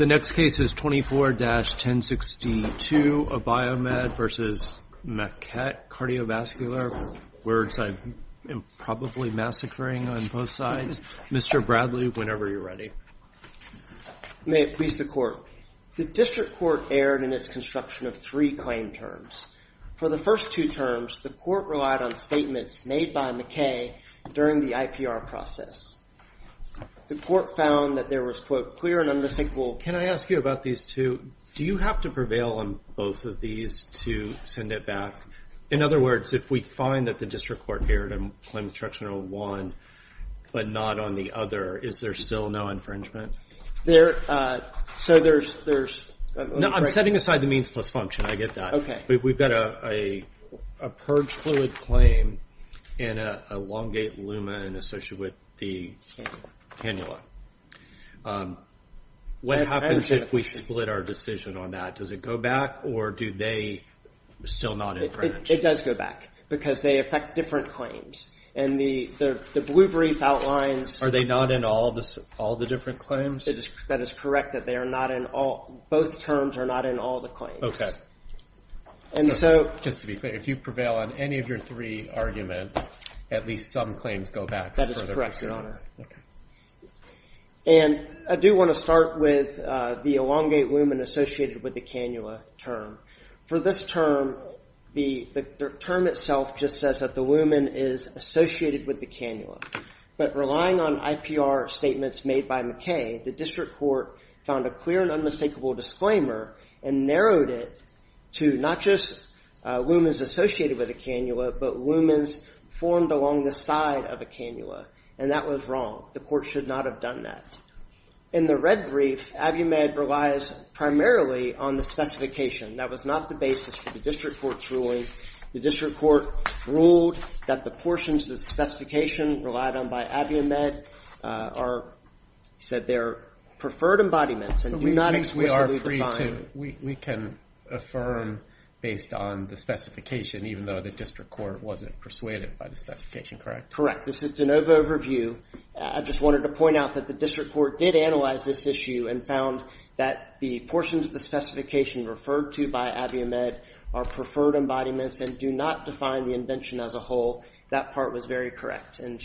The next case is 24-1062, a Biomed v. Maquet Cardiovascular. Words I am probably massacring on both sides. Mr. Bradley, whenever you're ready. May it please the court. The district court erred in its construction of three claim terms. For the first two terms, the court relied on statements made by Maquet during the IPR process. The court found that there was, quote, Can I ask you about these two? Do you have to prevail on both of these to send it back? In other words, if we find that the district court erred in claim construction of one, but not on the other, is there still no infringement? So there's... No, I'm setting aside the means plus function, I get that. But we've got a purge fluid claim and an elongate lumen associated with the cannula. What happens if we split our decision on that? Does it go back, or do they still not infringe? It does go back, because they affect different claims. And the blue brief outlines... Are they not in all the different claims? That is correct, that they are not in all... Both terms are not in all the claims. Just to be clear, if you prevail on any of your three arguments, at least some claims go back. That is correct, Your Honor. Yes, okay. And I do want to start with the elongate lumen associated with the cannula term. For this term, the term itself just says that the lumen is associated with the cannula. But relying on IPR statements made by McKay, the district court found a clear and unmistakable disclaimer and narrowed it to not just lumens associated with a cannula, but lumens formed along the side of a cannula, and that was wrong. The court should not have done that. In the red brief, Abiumed relies primarily on the specification. That was not the basis for the district court's ruling. The district court ruled that the portions of the specification relied on by Abiumed said they're preferred embodiments and do not explicitly define... We are free to, we can affirm based on the specification, even though the district court wasn't persuaded by the specification, correct? Correct, this is DeNova overview. I just wanted to point out that the district court did analyze this issue and found that the portions of the specification referred to by Abiumed are preferred embodiments and do not define the invention as a whole. That part was very correct and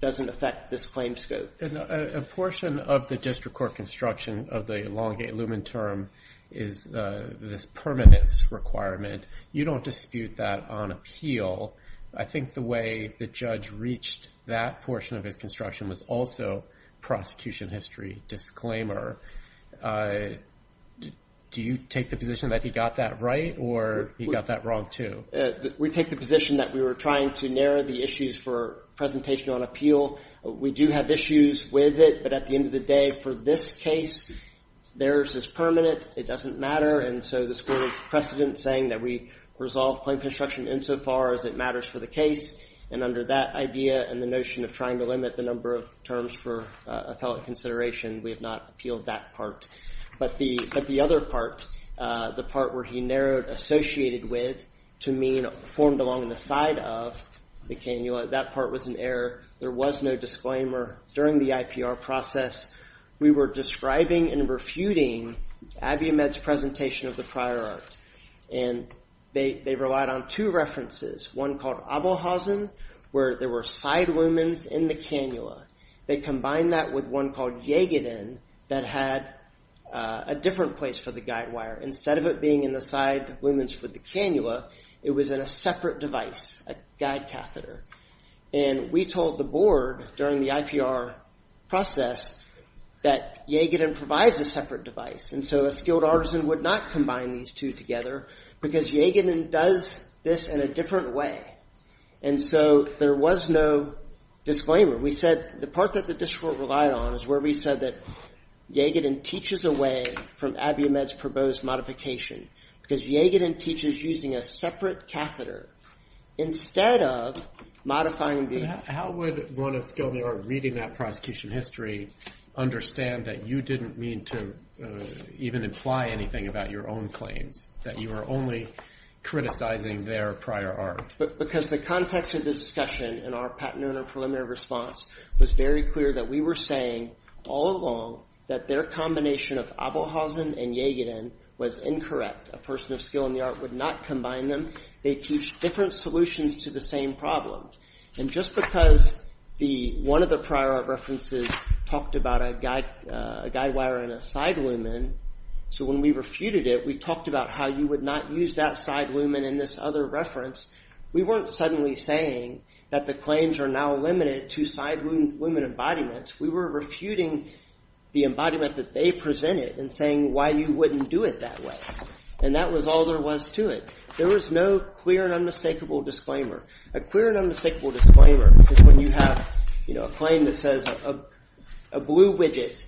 doesn't affect this claim scope. A portion of the district court construction of the elongate lumen term is this permanence requirement. You don't dispute that on appeal. I think the way the judge reached that portion of his construction was also prosecution history. Disclaimer. Do you take the position that he got that right or he got that wrong too? We take the position that we were trying to narrow the issues for presentation on appeal. We do have issues with it, but at the end of the day, for this case, theirs is permanent. It doesn't matter, and so the school has precedent saying that we resolve plain construction insofar as it matters for the case, and under that idea and the notion of trying to limit the number of terms for appellate consideration, we have not appealed that part. But the other part, the part where he narrowed associated with to mean formed along the side of the canula, that part was an error. There was no disclaimer during the IPR process. We were describing and refuting Abiumed's presentation of the prior art, and they relied on two references, one called Abelhausen, where there were side lumens in the canula. They combined that with one called Jaegeden that had a different place for the guide wire. Instead of it being in the side lumens for the canula, it was in a separate device, a guide catheter. And we told the board during the IPR process that Jaegeden provides a separate device, and so a skilled artisan would not combine these two together, because Jaegeden does this in a different way. And so there was no disclaimer. We said the part that the district relied on is where we said that Jaegeden teaches away from Abiumed's proposed modification, because Jaegeden teaches using a separate catheter instead of modifying the... How would one of skilled art reading that prosecution history understand that you didn't mean to even imply anything about your own claims, that you were only criticizing their prior art? Because the context of the discussion in our patent owner preliminary response was very clear that we were saying all along that their combination of Abelhausen and Jaegeden was incorrect. A person of skill in the art would not combine them. They teach different solutions to the same problem. And just because one of the prior art references talked about a guide wire and a side lumen, so when we refuted it, we talked about how you would not use that side lumen in this other reference. We weren't suddenly saying that the claims are now limited to side lumen embodiments. We were refuting the embodiment that they presented and saying why you wouldn't do it that way. And that was all there was to it. There was no clear and unmistakable disclaimer. A clear and unmistakable disclaimer is when you have a claim that says a blue widget,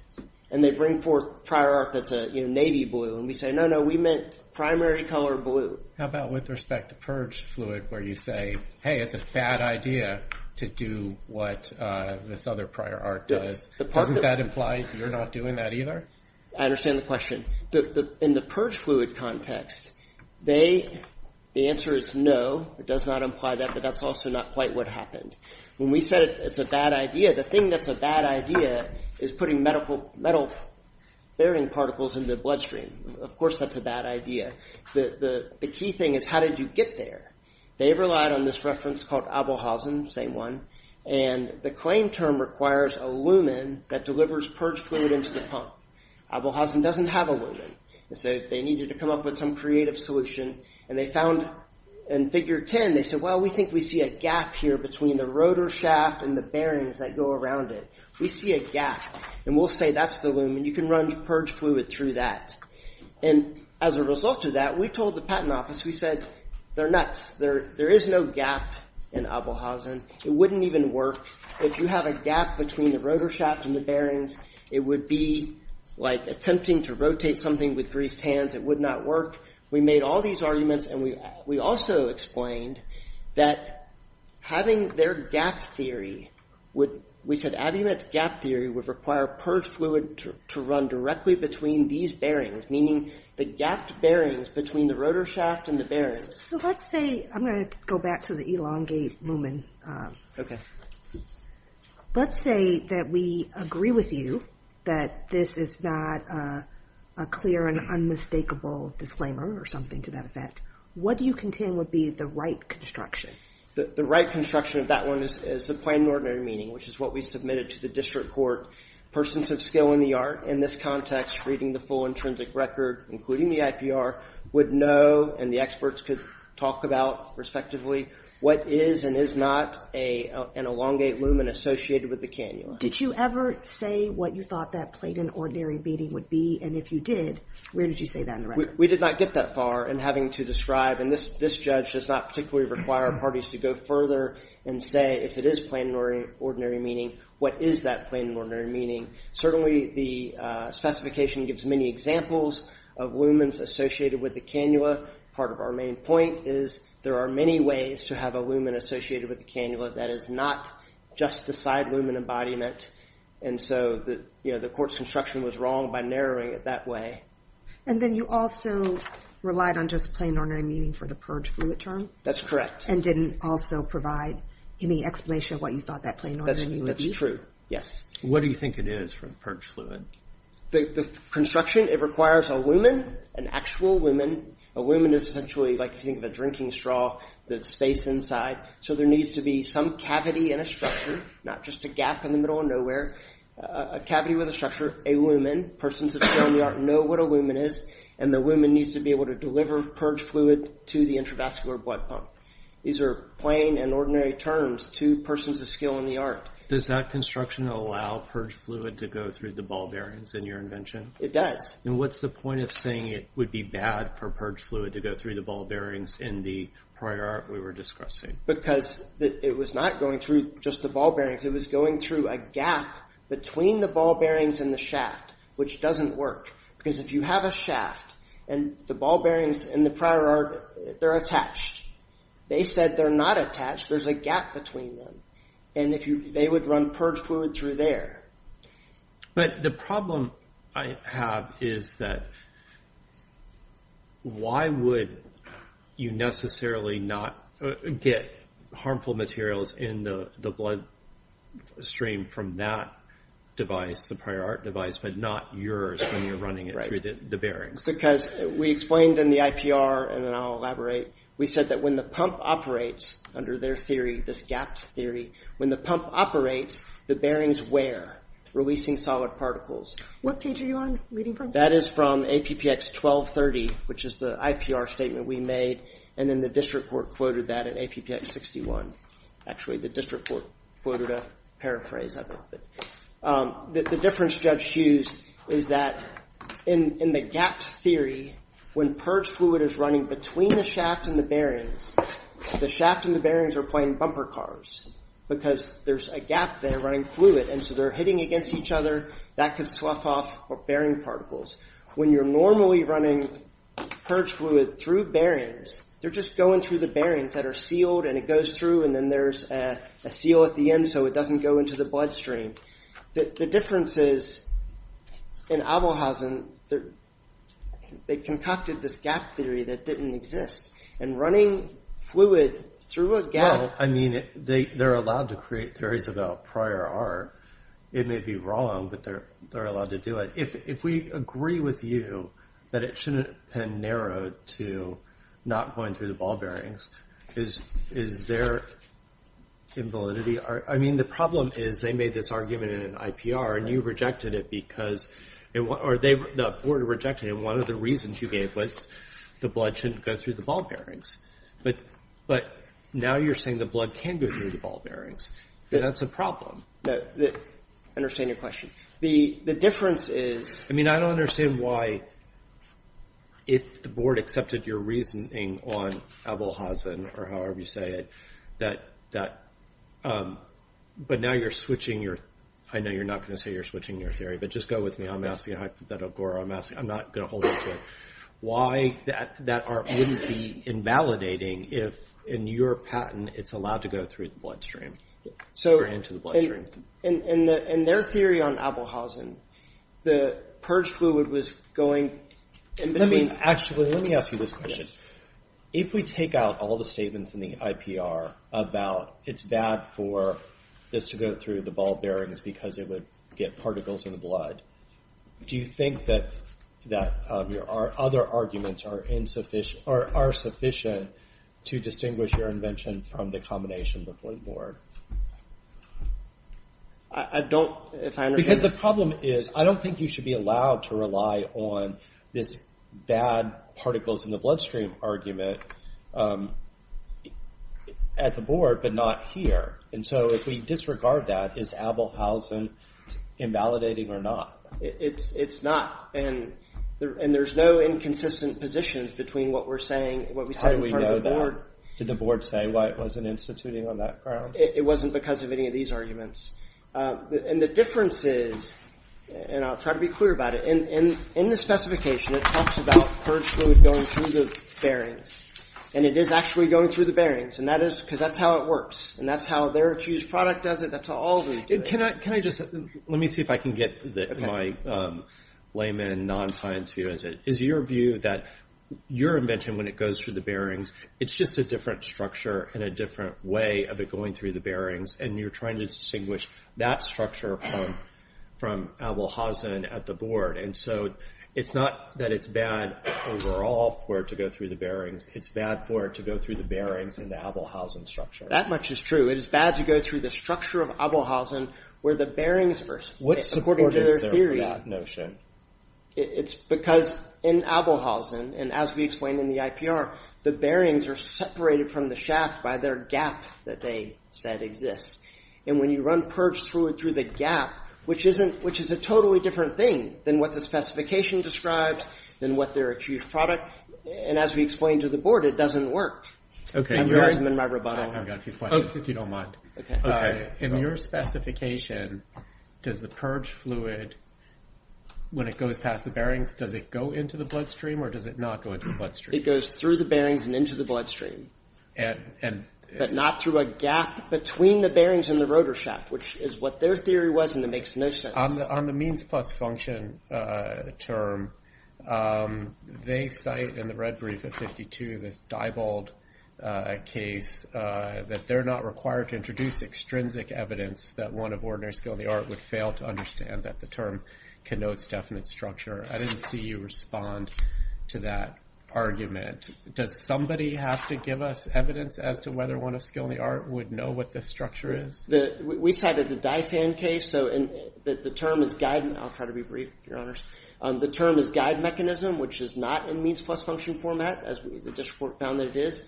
and they bring forth prior art that's a navy blue, and we say, no, no, we meant primary color blue. How about with respect to purge fluid, where you say, hey, it's a bad idea to do what this other prior art does. Doesn't that imply you're not doing that either? I understand the question. In the purge fluid context, the answer is no. It does not imply that, but that's also not quite what happened. When we said it's a bad idea, the thing that's a bad idea is putting metal bearing particles in the bloodstream. Of course, that's a bad idea. The key thing is how did you get there? They relied on this reference called Abelhausen, same one, and the claim term requires a lumen that delivers purge fluid into the pump. Abelhausen doesn't have a lumen, and so they needed to come up with some creative solution, and they found in figure 10, they said, well, we think we see a gap here between the rotor shaft and the bearings that go around it. We see a gap, and we'll say that's the lumen. You can run purge fluid through that, and as a result of that, we told the patent office, we said, they're nuts. There is no gap in Abelhausen. It wouldn't even work. If you have a gap between the rotor shaft and the bearings, it would be like attempting to rotate something with greased hands. It would not work. We made all these arguments, and we also explained that having their gap theory would, we said Abiumet's gap theory would require purge fluid to run directly between these bearings, meaning the gapped bearings between the rotor shaft and the bearings. So let's say, I'm gonna go back to the elongate lumen. Let's say that we agree with you that this is not a clear and unmistakable disclaimer or something to that effect. What do you contend would be the right construction? The right construction of that one is the plain and ordinary meaning, which is what we submitted to the district court. Persons of skill in the art, in this context, reading the full intrinsic record, including the IPR, would know, and the experts could talk about respectively, what is and is not an elongate lumen associated with the cannula. Did you ever say what you thought that plain and ordinary meaning would be? And if you did, where did you say that in the record? We did not get that far in having to describe, and this judge does not particularly require parties to go further and say if it is plain and ordinary meaning, what is that plain and ordinary meaning? Certainly the specification gives many examples of lumens associated with the cannula. Part of our main point is there are many ways to have a lumen associated with the cannula that is not just the side lumen embodiment, and so the court's construction was wrong by narrowing it that way. And then you also relied on just plain and ordinary meaning for the purge fluid term? That's correct. And didn't also provide any explanation of what you thought that plain and ordinary meaning would be? That's true, yes. What do you think it is for the purge fluid? The construction, it requires a lumen, an actual lumen. A lumen is essentially like, if you think of a drinking straw, the space inside. So there needs to be some cavity in a structure, not just a gap in the middle of nowhere, a cavity with a structure, a lumen. Persons of skill in the art know what a lumen is, and the lumen needs to be able to deliver purge fluid to the intravascular blood pump. These are plain and ordinary terms to persons of skill in the art. Does that construction allow purge fluid to go through the ball bearings in your invention? It does. And what's the point of saying it would be bad for purge fluid to go through the ball bearings in the prior art we were discussing? It was not going through just the ball bearings, it was going through a gap between the ball bearings and the shaft, which doesn't work. Because if you have a shaft, and the ball bearings in the prior art, they're attached. They said they're not attached, there's a gap between them. And they would run purge fluid through there. But the problem I have is that why would you necessarily not get harmful materials in the blood stream from that device, the prior art device, but not yours when you're running it through the bearings? Because we explained in the IPR, and then I'll elaborate, we said that when the pump operates, under their theory, this gapped theory, when the pump operates, the bearings wear, releasing solid particles. What page are you reading from? That is from APPX 1230, which is the IPR statement we made. And then the district court quoted that in APPX 61. Actually, the district court quoted a paraphrase of it. The difference Judge Hughes is that in the gapped theory, when purge fluid is running between the shaft and the bearings, the shaft and the bearings are playing bumper cars. Because there's a gap there running fluid, and so they're hitting against each other, that could slough off bearing particles. When you're normally running purge fluid through bearings, they're just going through the bearings that are sealed, and it goes through, and then there's a seal at the end so it doesn't go into the bloodstream. The difference is, in Abelhausen, they concocted this gapped theory that didn't exist. And running fluid through a gap. I mean, they're allowed to create theories about prior art. It may be wrong, but they're allowed to do it. If we agree with you that it shouldn't have been narrowed to not going through the ball bearings, is there invalidity? I mean, the problem is they made this argument in an IPR, and you rejected it because, or the board rejected it, and one of the reasons you gave was the blood shouldn't go through the ball bearings. But now you're saying the blood can go through the ball bearings. That's a problem. No, I understand your question. The difference is. I mean, I don't understand why, if the board accepted your reasoning on Abelhausen, or however you say it, but now you're switching your, I know you're not gonna say you're switching your theory, but just go with me, I'm asking hypothetical gore, I'm asking, I'm not gonna hold you to it. Why that art wouldn't be invalidating if, in your patent, it's allowed to go through the bloodstream, or into the bloodstream. In their theory on Abelhausen, the purge fluid was going in between. Actually, let me ask you this question. If we take out all the statements in the IPR about it's bad for this to go through the ball bearings because it would get particles in the blood, do you think that our other arguments are insufficient, or are sufficient to distinguish your invention from the combination of the blue board? I don't, if I understand. Because the problem is, I don't think you should be allowed to rely on this bad particles in the bloodstream argument at the board, but not here. And so, if we disregard that, is Abelhausen invalidating or not? It's not, and there's no inconsistent positions between what we're saying, what we said in front of the board. Did the board say why it wasn't instituting on that ground? It wasn't because of any of these arguments. And the difference is, and I'll try to be clear about it. In the specification, it talks about purge fluid going through the bearings. And it is actually going through the bearings. And that is, because that's how it works. And that's how their accused product does it. That's how all of them do it. Can I just, let me see if I can get my layman and non-science view as it. Is your view that your invention, when it goes through the bearings, it's just a different structure and a different way of it going through the bearings. And you're trying to distinguish that structure from Abelhausen at the board. And so, it's not that it's bad overall for it to go through the bearings. It's bad for it to go through the bearings in the Abelhausen structure. That much is true. It is bad to go through the structure of Abelhausen where the bearings are supported in theory. What support is there for that notion? It's because in Abelhausen, and as we explained in the IPR, the bearings are separated from the shaft by their gap that they said exists. And when you run purge through it, through the gap, which is a totally different thing than what the specification describes, than what their accused product. And as we explained to the board, it doesn't work. I'm re-arranging my rebuttal. I've got a few questions, if you don't mind. In your specification, does the purge fluid, when it goes past the bearings, does it go into the bloodstream or does it not go into the bloodstream? It goes through the bearings and into the bloodstream. But not through a gap between the bearings and the rotor shaft, which is what their theory was and it makes no sense. On the means plus function term, they cite in the red brief of 52, this Diebold case, that they're not required to introduce extrinsic evidence that one of ordinary skill in the art would fail to understand that the term connotes definite structure. I didn't see you respond to that argument. Does somebody have to give us evidence as to whether one of skill in the art would know what this structure is? We cited the Dye Fan case. So the term is guide, I'll try to be brief, your honors. The term is guide mechanism, which is not in means plus function format, as the district court found that it is.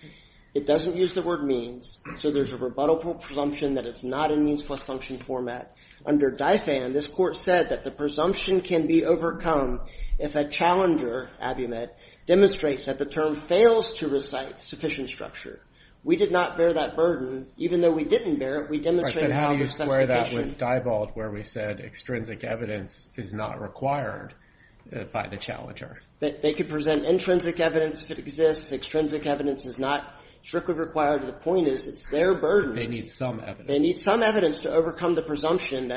It doesn't use the word means. So there's a rebuttal presumption that it's not in means plus function format. Under Dye Fan, this court said that the presumption can be overcome if a challenger, abument, demonstrates that the term fails to recite sufficient structure. We did not bear that burden. Even though we didn't bear it, we demonstrated how it was sufficient. And how do you square that with Diebold, where we said extrinsic evidence is not required by the challenger? They could present intrinsic evidence if it exists. Extrinsic evidence is not strictly required. The point is, it's their burden. They need some evidence. They need some evidence to overcome the presumption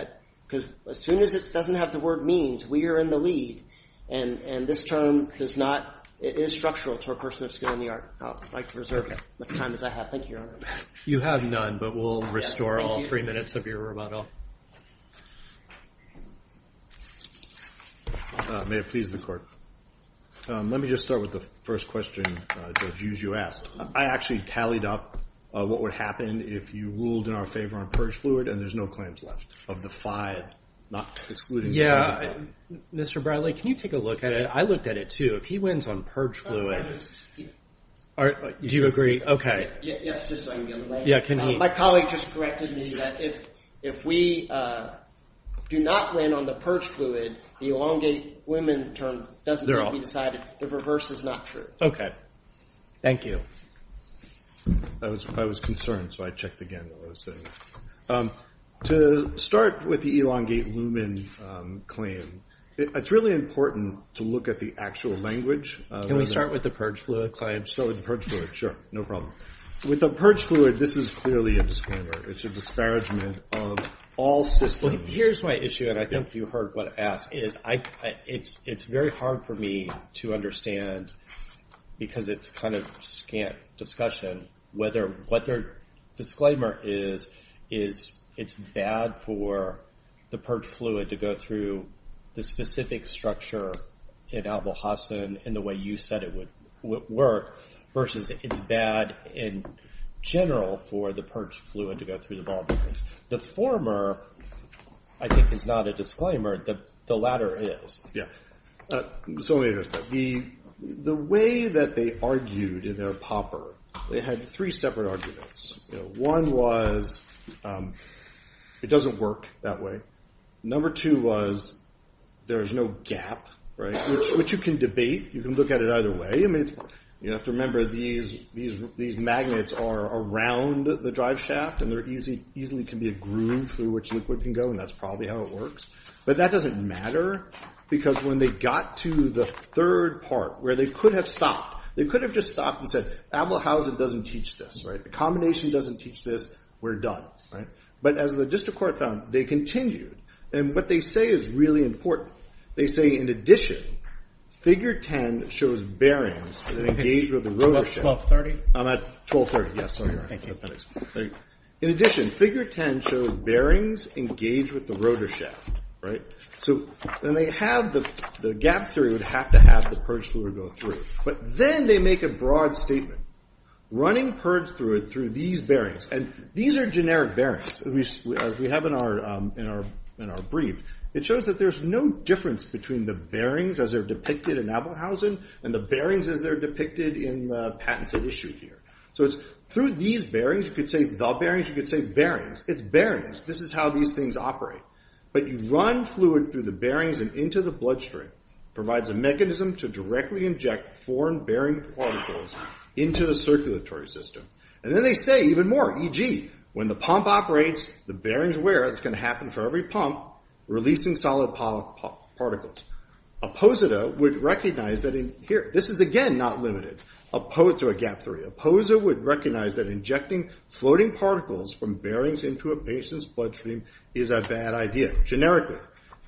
because as soon as it doesn't have the word means, we are in the lead. And this term does not, it is structural to a person of skill in the art. I'd like to reserve as much time as I have. Thank you, your honor. You have none, but we'll restore all three minutes of your rebuttal. May it please the court. Let me just start with the first question, Judge Hughes, you asked. I actually tallied up what would happen if you ruled in our favor on purge fluid, and there's no claims left of the five, not excluding the purge fluid. Mr. Bradley, can you take a look at it? I looked at it, too. If he wins on purge fluid, do you agree? Yes, just so I can get it right. Yeah, can he? My colleague just corrected me that if we do not win on the purge fluid, the elongate women term doesn't need to be decided. The reverse is not true. Okay. Thank you. I was concerned, so I checked again while I was sitting. To start with the elongate women claim, it's really important to look at the actual language. Can we start with the purge fluid claim? Start with the purge fluid, sure, no problem. With the purge fluid, this is clearly a disclaimer. It's a disparagement of all systems. Here's my issue, and I think you heard what I asked, is it's very hard for me to understand, because it's kind of scant discussion, whether what their disclaimer is, is it's bad for the purge fluid to go through the specific structure in albulhasen in the way you said it would work, versus it's bad in general for the purge fluid to go through the barbicanes. The former, I think, is not a disclaimer. The latter is. Yeah, so let me address that. The way that they argued in their pauper, they had three separate arguments. One was, it doesn't work that way. Number two was, there's no gap, right? Which you can debate, you can look at it either way. I mean, you have to remember, these magnets are around the drive shaft, and there easily can be a groove through which liquid can go, and that's probably how it works. But that doesn't matter, because when they got to the third part, where they could have stopped, they could have just stopped and said, albulhasen doesn't teach this, right? The combination doesn't teach this, we're done, right? But as the district court found, they continued. And what they say is really important. They say, in addition, figure 10 shows bearings that engage with the rotor shaft. 1230? I'm at 1230, yes, sorry. Thank you. In addition, figure 10 shows bearings engage with the rotor shaft, right? So then they have the gap through, it would have to have the purge fluid go through. But then they make a broad statement. Running purge fluid through these bearings, and these are generic bearings, as we have in our brief, it shows that there's no difference between the bearings as they're depicted in albulhasen and the bearings as they're depicted in the patents that we shoot here. So it's through these bearings, you could say the bearings, you could say bearings, it's bearings, this is how these things operate. But you run fluid through the bearings and into the bloodstream, provides a mechanism to directly inject foreign bearing particles into the circulatory system. And then they say even more, e.g., when the pump operates, the bearings wear, that's going to happen for every pump, releasing solid particles. A posita would recognize that in here, this is again, not limited, opposed to a gap through. A posita would recognize that injecting floating particles from bearings into a patient's bloodstream is a bad idea, generically.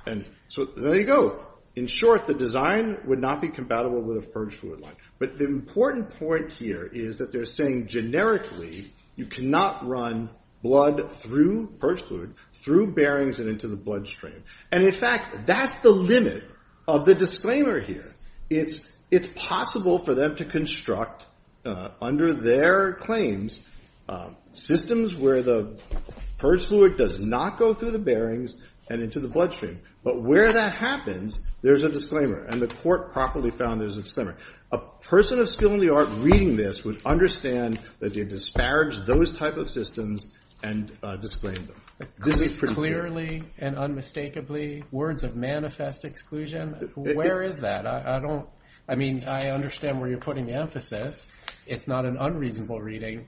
And so there you go. In short, the design would not be compatible with a purge fluid line. But the important point here is that they're saying generically, you cannot run blood through purge fluid, through bearings and into the bloodstream. And in fact, that's the limit of the disclaimer here. It's possible for them to construct, under their claims, systems where the purge fluid does not go through the bearings and into the bloodstream. But where that happens, there's a disclaimer. And the court properly found there's a disclaimer. A person of skill in the art reading this would understand that they disparaged those type of systems and disclaimed them. This is pretty clear. Clearly and unmistakably, words of manifest exclusion, where is that? I don't, I mean, I understand where you're putting the emphasis. It's not an unreasonable reading,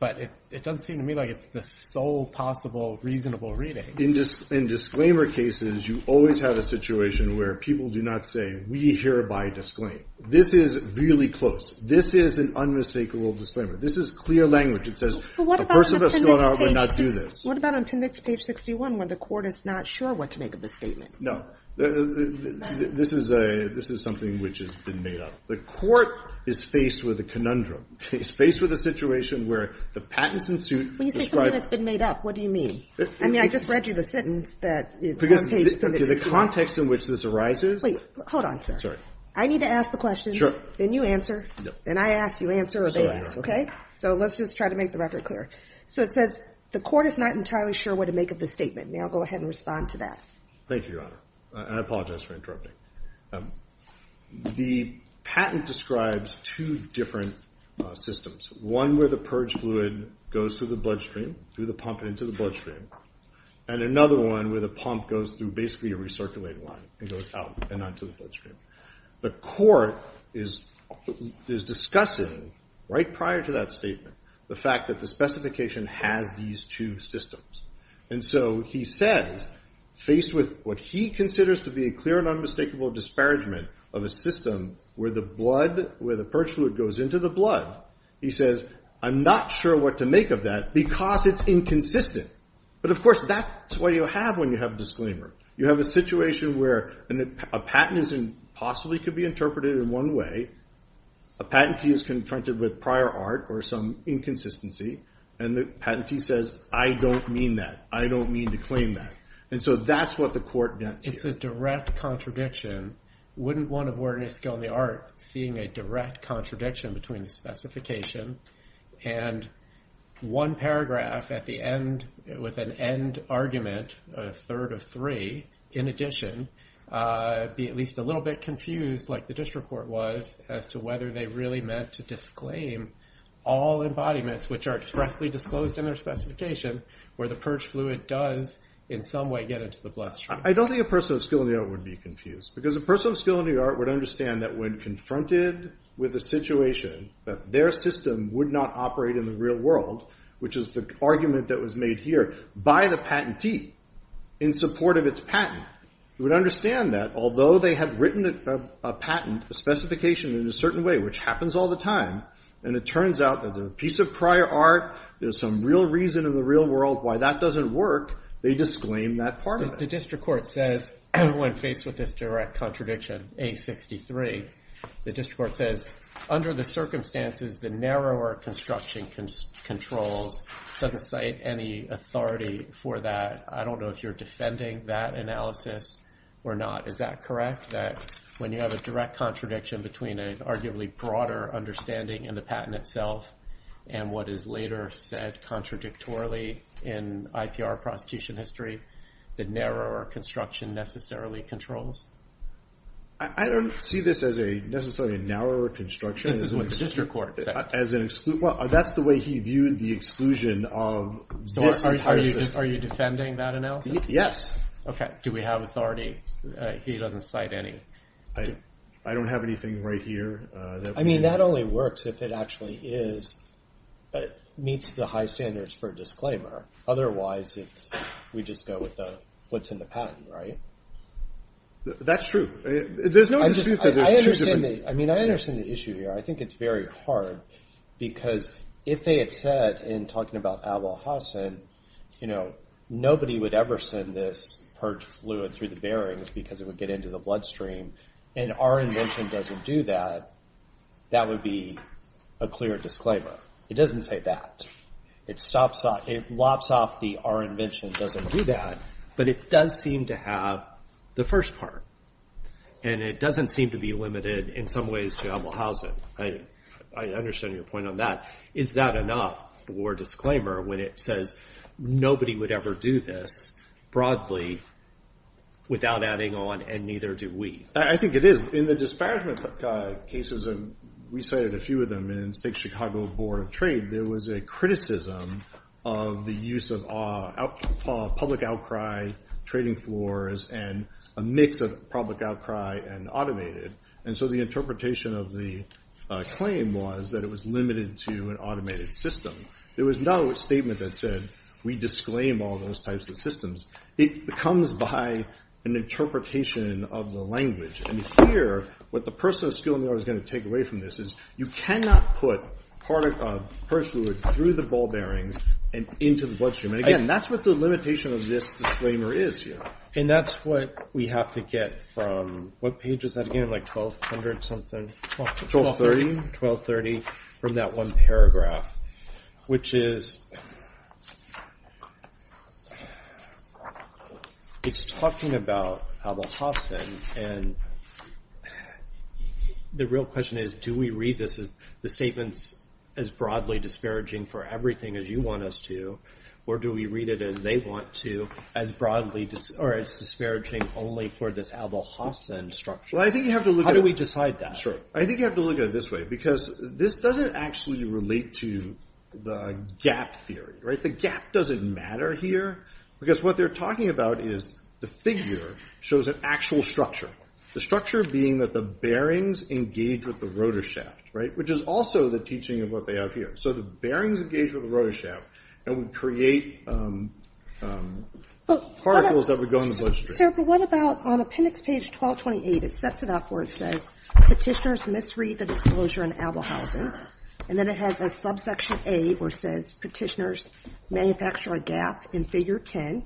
but it doesn't seem to me like it's the sole possible reasonable reading. In disclaimer cases, you always have a situation where people do not say, we hereby disclaim. This is really close. This is an unmistakable disclaimer. This is clear language. It says, a person of skill in the art would not do this. What about on appendix page 61, where the court is not sure what to make of the statement? No, this is something which has been made up. The court is faced with a conundrum. It's faced with a situation where the patents in suit. When you say something that's been made up, what do you mean? I mean, I just read you the sentence that is on page. The context in which this arises. Wait, hold on, sir. I need to ask the question, then you answer, then I ask, you answer, or they ask, okay? So let's just try to make the record clear. So it says, the court is not entirely sure what to make of the statement. May I go ahead and respond to that? Thank you, Your Honor. And I apologize for interrupting. The patent describes two different systems. One where the purge fluid goes through the bloodstream, through the pump and into the bloodstream, and another one where the pump goes through basically a recirculating line and goes out and onto the bloodstream. The court is discussing, right prior to that statement, the fact that the specification has these two systems. And so he says, faced with what he considers to be a clear and unmistakable disparagement of a system where the blood, where the purge fluid goes into the blood, he says, I'm not sure what to make of that because it's inconsistent. But of course, that's what you have when you have disclaimer. You have a situation where a patent possibly could be interpreted in one way. A patentee is confronted with prior art or some inconsistency, and the patentee says, I don't mean that. I don't mean to claim that. And so that's what the court gets. It's a direct contradiction. Wouldn't one of Wernicke on the art seeing a direct contradiction between the specification and one paragraph at the end with an end argument, a third of three, in addition, be at least a little bit confused like the district court was as to whether they really meant to disclaim all embodiments which are expressly disclosed in their specification where the purge fluid does in some way get into the bloodstream. I don't think a person of skill in the art would be confused because a person of skill in the art would understand that when confronted with a situation that their system would not operate in the real world, which is the argument that was made here by the patentee in support of its patent, would understand that although they had written a patent, a specification in a certain way, which happens all the time, and it turns out that the piece of prior art, there's some real reason in the real world why that doesn't work, they disclaim that part of it. The district court says, everyone faced with this direct contradiction, A63, the district court says, under the circumstances the narrower construction controls doesn't cite any authority for that. I don't know if you're defending that analysis or not. Is that correct? That when you have a direct contradiction between an arguably broader understanding in the patent itself, and what is later said contradictorily in IPR prosecution history, the narrower construction necessarily controls? I don't see this as necessarily a narrower construction. This is what the district court said. As an exclusion, that's the way he viewed the exclusion of this entire system. Are you defending that analysis? Yes. Okay, do we have authority? He doesn't cite any. I don't have anything right here. I mean, that only works if it actually is, meets the high standards for disclaimer. Otherwise, we just go with what's in the patent, right? That's true. There's no dispute that there's two different. I mean, I understand the issue here. I think it's very hard, because if they had said, in talking about Abolhassan, nobody would ever send this purge fluid through the bearings because it would get into the bloodstream, and our invention doesn't do that, that would be a clear disclaimer. It doesn't say that. It lops off the our invention doesn't do that, but it does seem to have the first part, and it doesn't seem to be limited in some ways to Abolhassan. I understand your point on that. Is that enough for disclaimer when it says nobody would ever do this, broadly, without adding on, and neither do we? I think it is. In the disparagement cases, and we cited a few of them in State Chicago Board of Trade, there was a criticism of the use of public outcry, trading floors, and a mix of public outcry and automated, and so the interpretation of the claim was that it was limited to an automated system. There was no statement that said we disclaim all those types of systems. It comes by an interpretation of the language, and here, what the person of skill in the art is gonna take away from this is you cannot put purge fluid through the ball bearings and into the bloodstream, and again, that's what the limitation of this disclaimer is here. And that's what we have to get from, what page is that again? Like 1200 something? 1230. 1230, from that one paragraph, which is, it's talking about Abolhassan, and the real question is do we read this, the statements as broadly disparaging for everything as you want us to, or do we read it as they want to, as broadly, or as disparaging only for this Abolhassan structure? How do we decide that? I think you have to look at it this way, because this doesn't actually relate to the gap theory, right? The gap doesn't matter here, because what they're talking about is the figure shows an actual structure, the structure being that the bearings engage with the rotor shaft, right? Which is also the teaching of what they have here. So the bearings engage with the rotor shaft, and we create particles that would go in the bloodstream. Sir, but what about on appendix page 1228, it sets it up where it says, petitioners misread the disclosure in Abolhassan, and then it has a subsection A, where it says petitioners manufacture a gap in figure 10,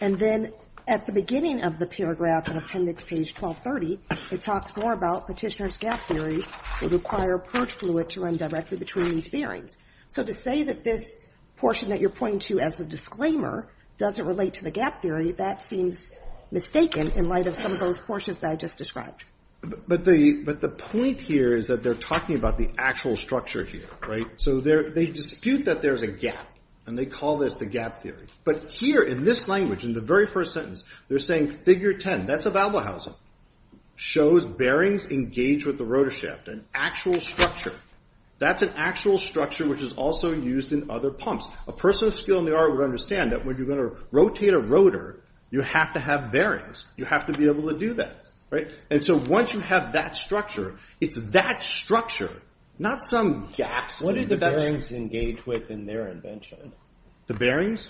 and then at the beginning of the paragraph in appendix page 1230, it talks more about petitioner's gap theory would require purge fluid to run directly between these bearings. So to say that this portion that you're pointing to as a disclaimer, doesn't relate to the gap theory, that seems mistaken in light of some of those portions that I just described. But the point here is that they're talking about the actual structure here, right? So they dispute that there's a gap, and they call this the gap theory. But here in this language, in the very first sentence, they're saying figure 10, that's Abolhassan, shows bearings engage with the rotor shaft, an actual structure. That's an actual structure, which is also used in other pumps. A person of skill in the art would understand that when you're going to rotate a rotor, you have to have bearings. You have to be able to do that, right? And so once you have that structure, it's that structure, not some gaps. What do the bearings engage with in their invention? The bearings?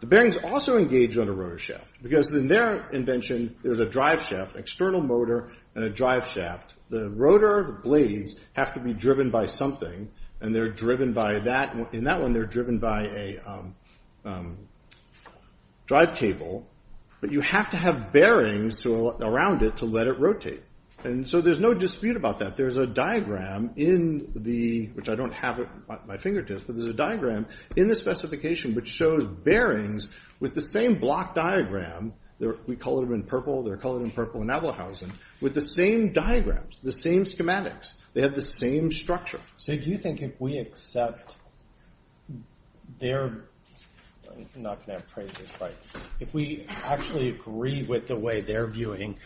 The bearings also engage on a rotor shaft, because in their invention, there's a drive shaft, external motor, and a drive shaft. The rotor blades have to be driven by something, and in that one, they're driven by a drive cable, but you have to have bearings around it to let it rotate. And so there's no dispute about that. There's a diagram in the, which I don't have at my fingertips, but there's a diagram in the specification which shows bearings with the same block diagram, we call them in purple, they're colored in purple in Abolhassan, with the same diagrams, the same schematics. They have the same structure. So do you think if we accept their, I'm not gonna have phrases, right, if we actually agree with the way they're viewing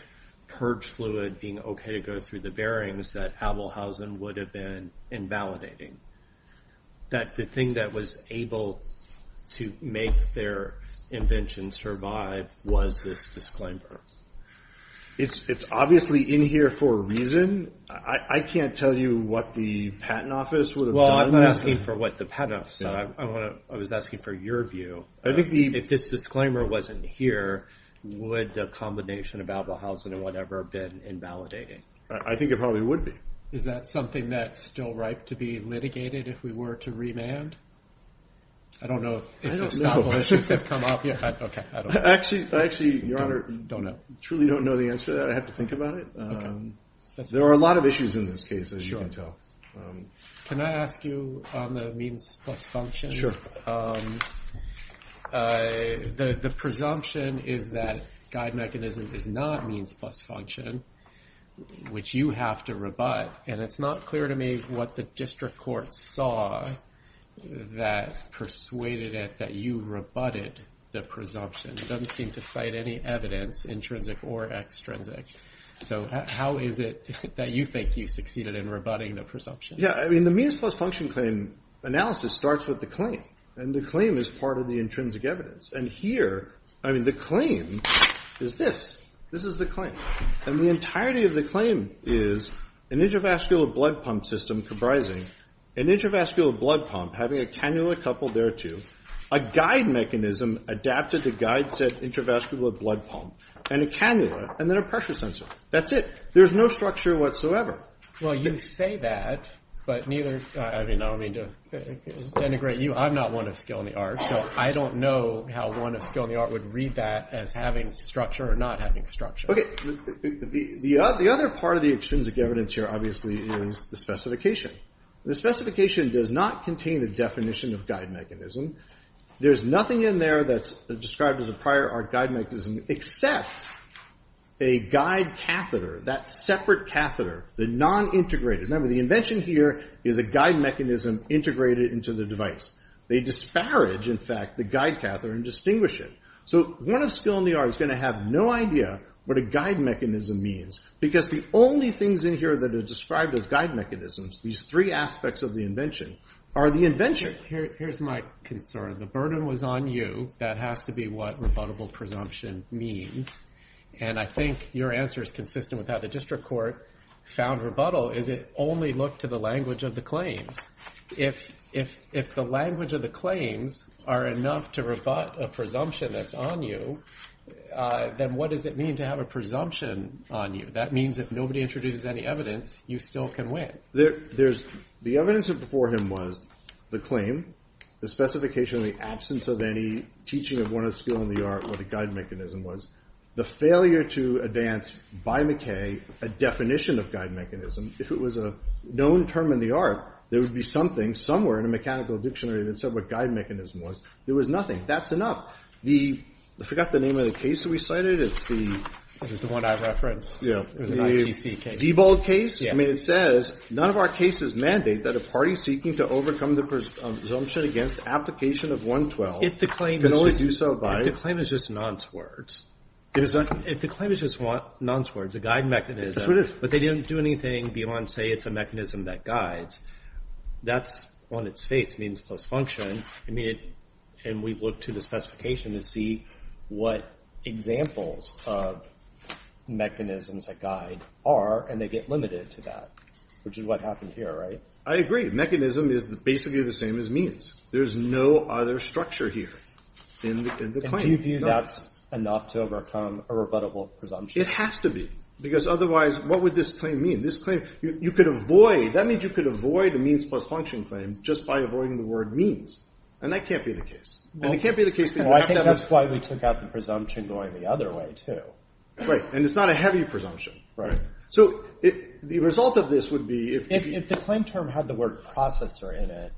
purge fluid being okay to go through the bearings that Abolhassan would have been invalidating, that the thing that was able to make their invention survive was this disclaimer? It's obviously in here for a reason. I can't tell you what the patent office would have done. Well, I'm not asking for what the patent office said. I was asking for your view. I think the, if this disclaimer wasn't here, would a combination of Abolhassan and whatever have been invalidating? I think it probably would be. Is that something that's still ripe to be litigated if we were to remand? I don't know if the establishments have come up yet. Okay, I don't know. Actually, Your Honor, don't know. Truly don't know the answer to that. I'd have to think about it. There are a lot of issues in this case, as you can tell. Can I ask you on the means plus function? The presumption is that guide mechanism is not means plus function, which you have to rebut, and it's not clear to me what the district court saw that persuaded it that you rebutted the presumption. It doesn't seem to cite any evidence, intrinsic or extrinsic. So how is it that you think you succeeded in rebutting the presumption? Yeah, I mean, the means plus function claim analysis starts with the claim, and the claim is part of the intrinsic evidence. And here, I mean, the claim is this. This is the claim. And the entirety of the claim is an intravascular blood pump system comprising an intravascular blood pump having a cannula coupled thereto, a guide mechanism adapted to guide said intravascular blood pump, and a cannula, and then a pressure sensor. That's it. There's no structure whatsoever. Well, you say that, but neither, I mean, I don't mean to denigrate you. I'm not one of skill in the art, so I don't know how one of skill in the art would read that as having structure or not having structure. Okay. The other part of the extrinsic evidence here, obviously, is the specification. The specification does not contain the definition of guide mechanism. There's nothing in there that's described as a prior art guide mechanism, except a guide catheter, that separate catheter, the non-integrated. Remember, the invention here is a guide mechanism integrated into the device. They disparage, in fact, the guide catheter and distinguish it. So one of skill in the art is gonna have no idea what a guide mechanism means, because the only things in here that are described as guide mechanisms, these three aspects of the invention, are the invention. Here's my concern. The burden was on you. That has to be what rebuttable presumption means. And I think your answer is consistent with how the district court found rebuttal, is it only looked to the language of the claims. If the language of the claims are enough to rebut a presumption that's on you, then what does it mean to have a presumption on you? That means if nobody introduces any evidence, you still can win. There's, the evidence before him was the claim, the specification of the absence of any teaching of one of skill in the art, what a guide mechanism was. The failure to advance by McKay a definition of guide mechanism. If it was a known term in the art, there would be something, somewhere in a mechanical dictionary that said what guide mechanism was. There was nothing. That's enough. The, I forgot the name of the case that we cited. It's the... This is the one I referenced. It was an ITC case. Diebold case? I mean, it says, none of our cases mandate that a party seeking to overcome the presumption against application of 112 can always do so by... If the claim is just nonce words. Is that? If the claim is just nonce words, a guide mechanism, but they didn't do anything beyond say it's a mechanism that guides, that's on its face means post-function. I mean, and we've looked to the specification to see what examples of mechanisms that guide are, and they get limited to that, which is what happened here, right? I agree. Mechanism is basically the same as means. There's no other structure here in the claim. And do you view that's enough to overcome a rebuttable presumption? It has to be, because otherwise what would this claim mean? This claim, you could avoid, that means you could avoid a means post-function claim just by avoiding the word means. And that can't be the case. And it can't be the case that you have to have... Well, I think that's why we took out the presumption going the other way too. Right, and it's not a heavy presumption. Right. So the result of this would be if... If the claim term had the word processor in it,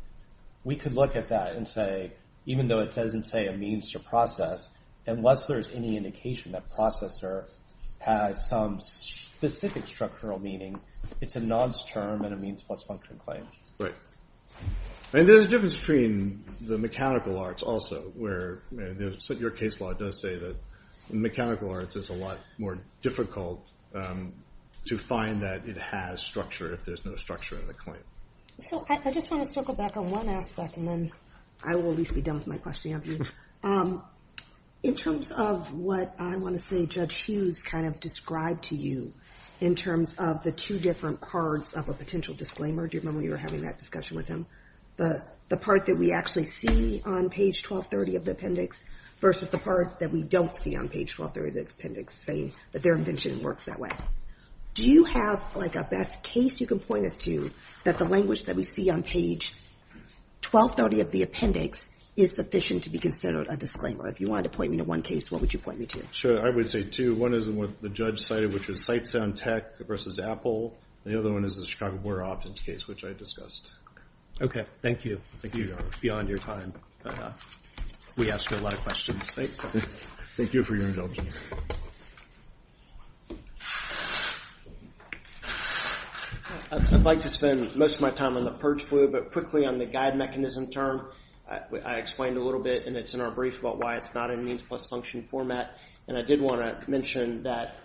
we could look at that and say, even though it doesn't say a means to process, unless there's any indication that processor has some specific structural meaning, it's a nonce term and a means post-function claim. Right. And there's a difference between the mechanical arts also, where your case law does say that mechanical arts is a lot more difficult to find that it has structure if there's no structure in the claim. So I just want to circle back on one aspect, and then I will at least be done with my question. In terms of what I want to say, Judge Hughes kind of described to you in terms of the two different parts of a potential disclaimer. Do you remember you were having that discussion with him? The part that we actually see on page 1230 of the appendix versus the part that we don't see on page 1230 of the appendix saying that their invention works that way. Do you have like a best case you can point us to that the language that we see on page 1230 of the appendix is sufficient to be considered a disclaimer? If you wanted to point me to one case, what would you point me to? Sure, I would say two. One is the one the judge cited, which was SightSound Tech versus Apple. The other one is the Chicago Board of Options case, which I discussed. Okay, thank you. Thank you, Your Honor. Beyond your time, we ask you a lot of questions. Thanks. Thank you for your indulgence. I'd like to spend most of my time on the purge fluid, but quickly on the guide mechanism term. I explained a little bit and it's in our brief about why it's not in means plus function format. And I did wanna mention that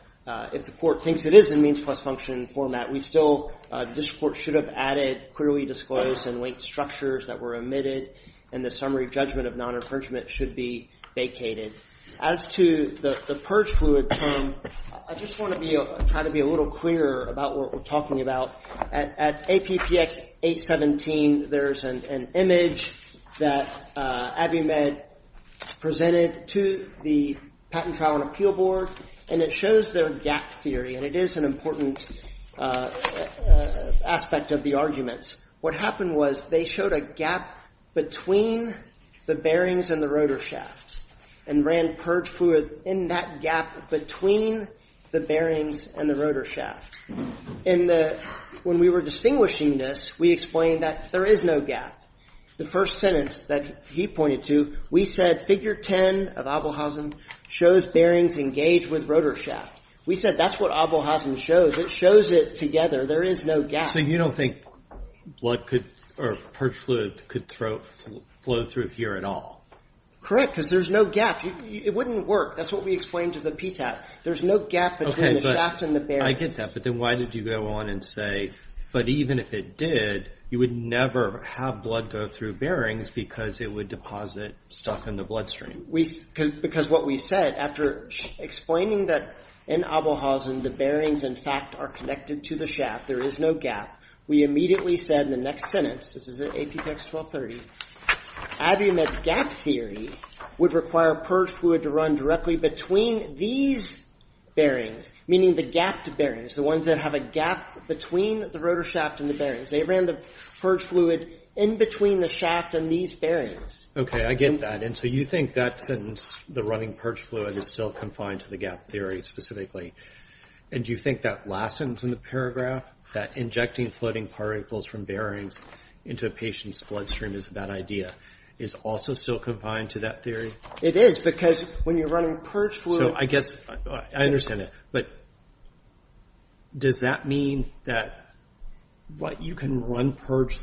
if the court thinks it is in means plus function format, we still, the district court should have added clearly disclosed and linked structures that were omitted and the summary judgment of non-infringement should be vacated. As to the purge fluid term, I just wanna try to be a little clearer about what we're talking about. At APPX 817, there's an image that AVIMED presented to the Patent Trial and Appeal Board, and it shows their gap theory. And it is an important aspect of the arguments. What happened was they showed a gap between the bearings and the rotor shaft and ran purge fluid in that gap between the bearings and the rotor shaft. And when we were distinguishing this, we explained that there is no gap. The first sentence that he pointed to, we said, figure 10 of Abelhausen shows bearings engaged with rotor shaft. We said, that's what Abelhausen shows. It shows it together. There is no gap. So you don't think blood could, or purge fluid could flow through here at all? Correct, because there's no gap. It wouldn't work. That's what we explained to the PTAP. There's no gap between the shaft and the bearings. I get that, but then why did you go on and say, but even if it did, you would never have blood go through bearings because it would deposit stuff in the bloodstream. Because what we said, after explaining that in Abelhausen, the bearings, in fact, are connected to the shaft, there is no gap. We immediately said in the next sentence, this is at APPEX 1230, Abiumet's gap theory would require purge fluid to run directly between these bearings, meaning the gapped bearings, the ones that have a gap between the rotor shaft and the bearings. They ran the purge fluid in between the shaft and these bearings. Okay, I get that. And so you think that sentence, the running purge fluid is still confined to the gap theory specifically. And do you think that last sentence in the paragraph, that injecting floating particles from bearings into a patient's bloodstream is a bad idea, is also still confined to that theory? It is, because when you're running purge fluid. So I guess, I understand it, but does that mean that you can run purge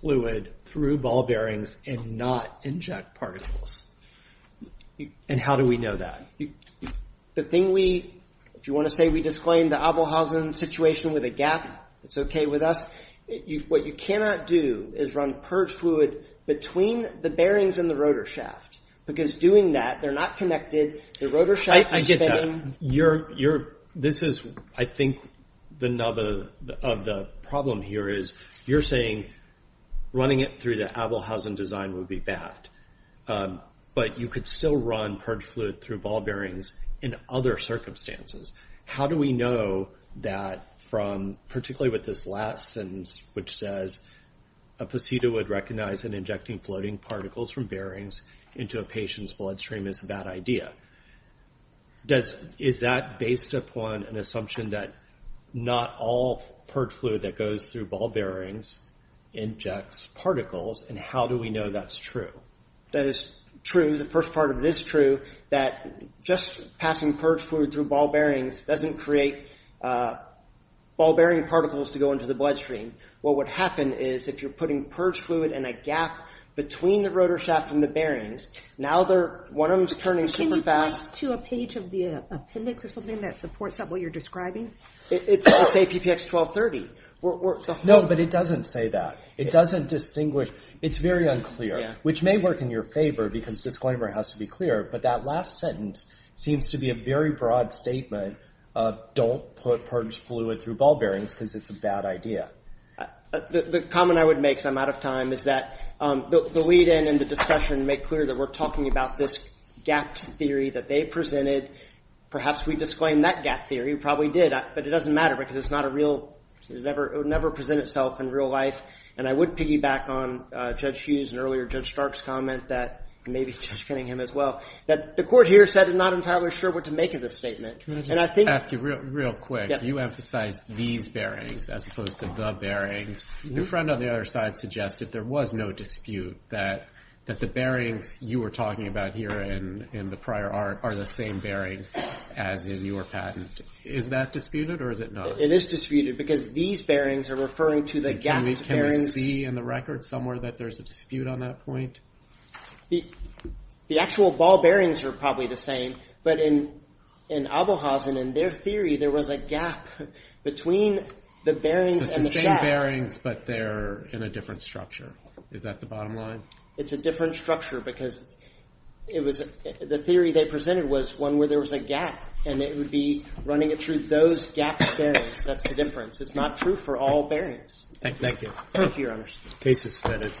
fluid through ball bearings and not inject particles? And how do we know that? The thing we, if you want to say, we disclaimed the Abelhausen situation with a gap, it's okay with us. What you cannot do is run purge fluid between the bearings and the rotor shaft, because doing that, they're not connected. The rotor shaft is spinning. You're, this is, I think the number of the problem here is, you're saying running it through the Abelhausen design would be bad, but you could still run purge fluid through ball bearings in other circumstances. How do we know that from, particularly with this last sentence, which says a placebo would recognize that injecting floating particles from bearings into a patient's bloodstream is a bad idea. Does, is that based upon an assumption that not all purge fluid that goes through ball bearings injects particles, and how do we know that's true? That is true. The first part of it is true, that just passing purge fluid through ball bearings doesn't create ball bearing particles to go into the bloodstream. What would happen is, if you're putting purge fluid in a gap between the rotor shaft and the bearings, now they're, one of them's turning super fast. Can you point to a page of the appendix or something that supports that, what you're describing? It's, let's say PPX 1230. No, but it doesn't say that. It doesn't distinguish, it's very unclear, which may work in your favor, because disclaimer has to be clear, but that last sentence seems to be a very broad statement of don't put purge fluid through ball bearings, because it's a bad idea. The comment I would make, because I'm out of time, is that the lead-in and the discussion make clear that we're talking about this gap theory that they presented. Perhaps we disclaimed that gap theory, we probably did, but it doesn't matter, because it's not a real, it would never present itself in real life, and I would piggyback on Judge Hughes and earlier Judge Stark's comment that, maybe Judge Kenningham as well, that the court here said it's not entirely sure what to make of this statement. And I think- Can I just ask you real quick? You emphasized these bearings, as opposed to the bearings. Your friend on the other side suggested there was no dispute that the bearings you were talking about here in the prior art are the same bearings as in your patent. Is that disputed, or is it not? It is disputed, because these bearings are referring to the gapped bearings. Can we see in the record somewhere that there's a dispute on that point? The actual ball bearings are probably the same, but in Abelhausen, in their theory, there was a gap between the bearings and the shaft. So it's the same bearings, but they're in a different structure. Is that the bottom line? It's a different structure, because it was, the theory they presented was one where there was a gap, and it would be running it through those gapped bearings. That's the difference. It's not true for all bearings. Thank you. Thank you, Your Honors. Case is submitted.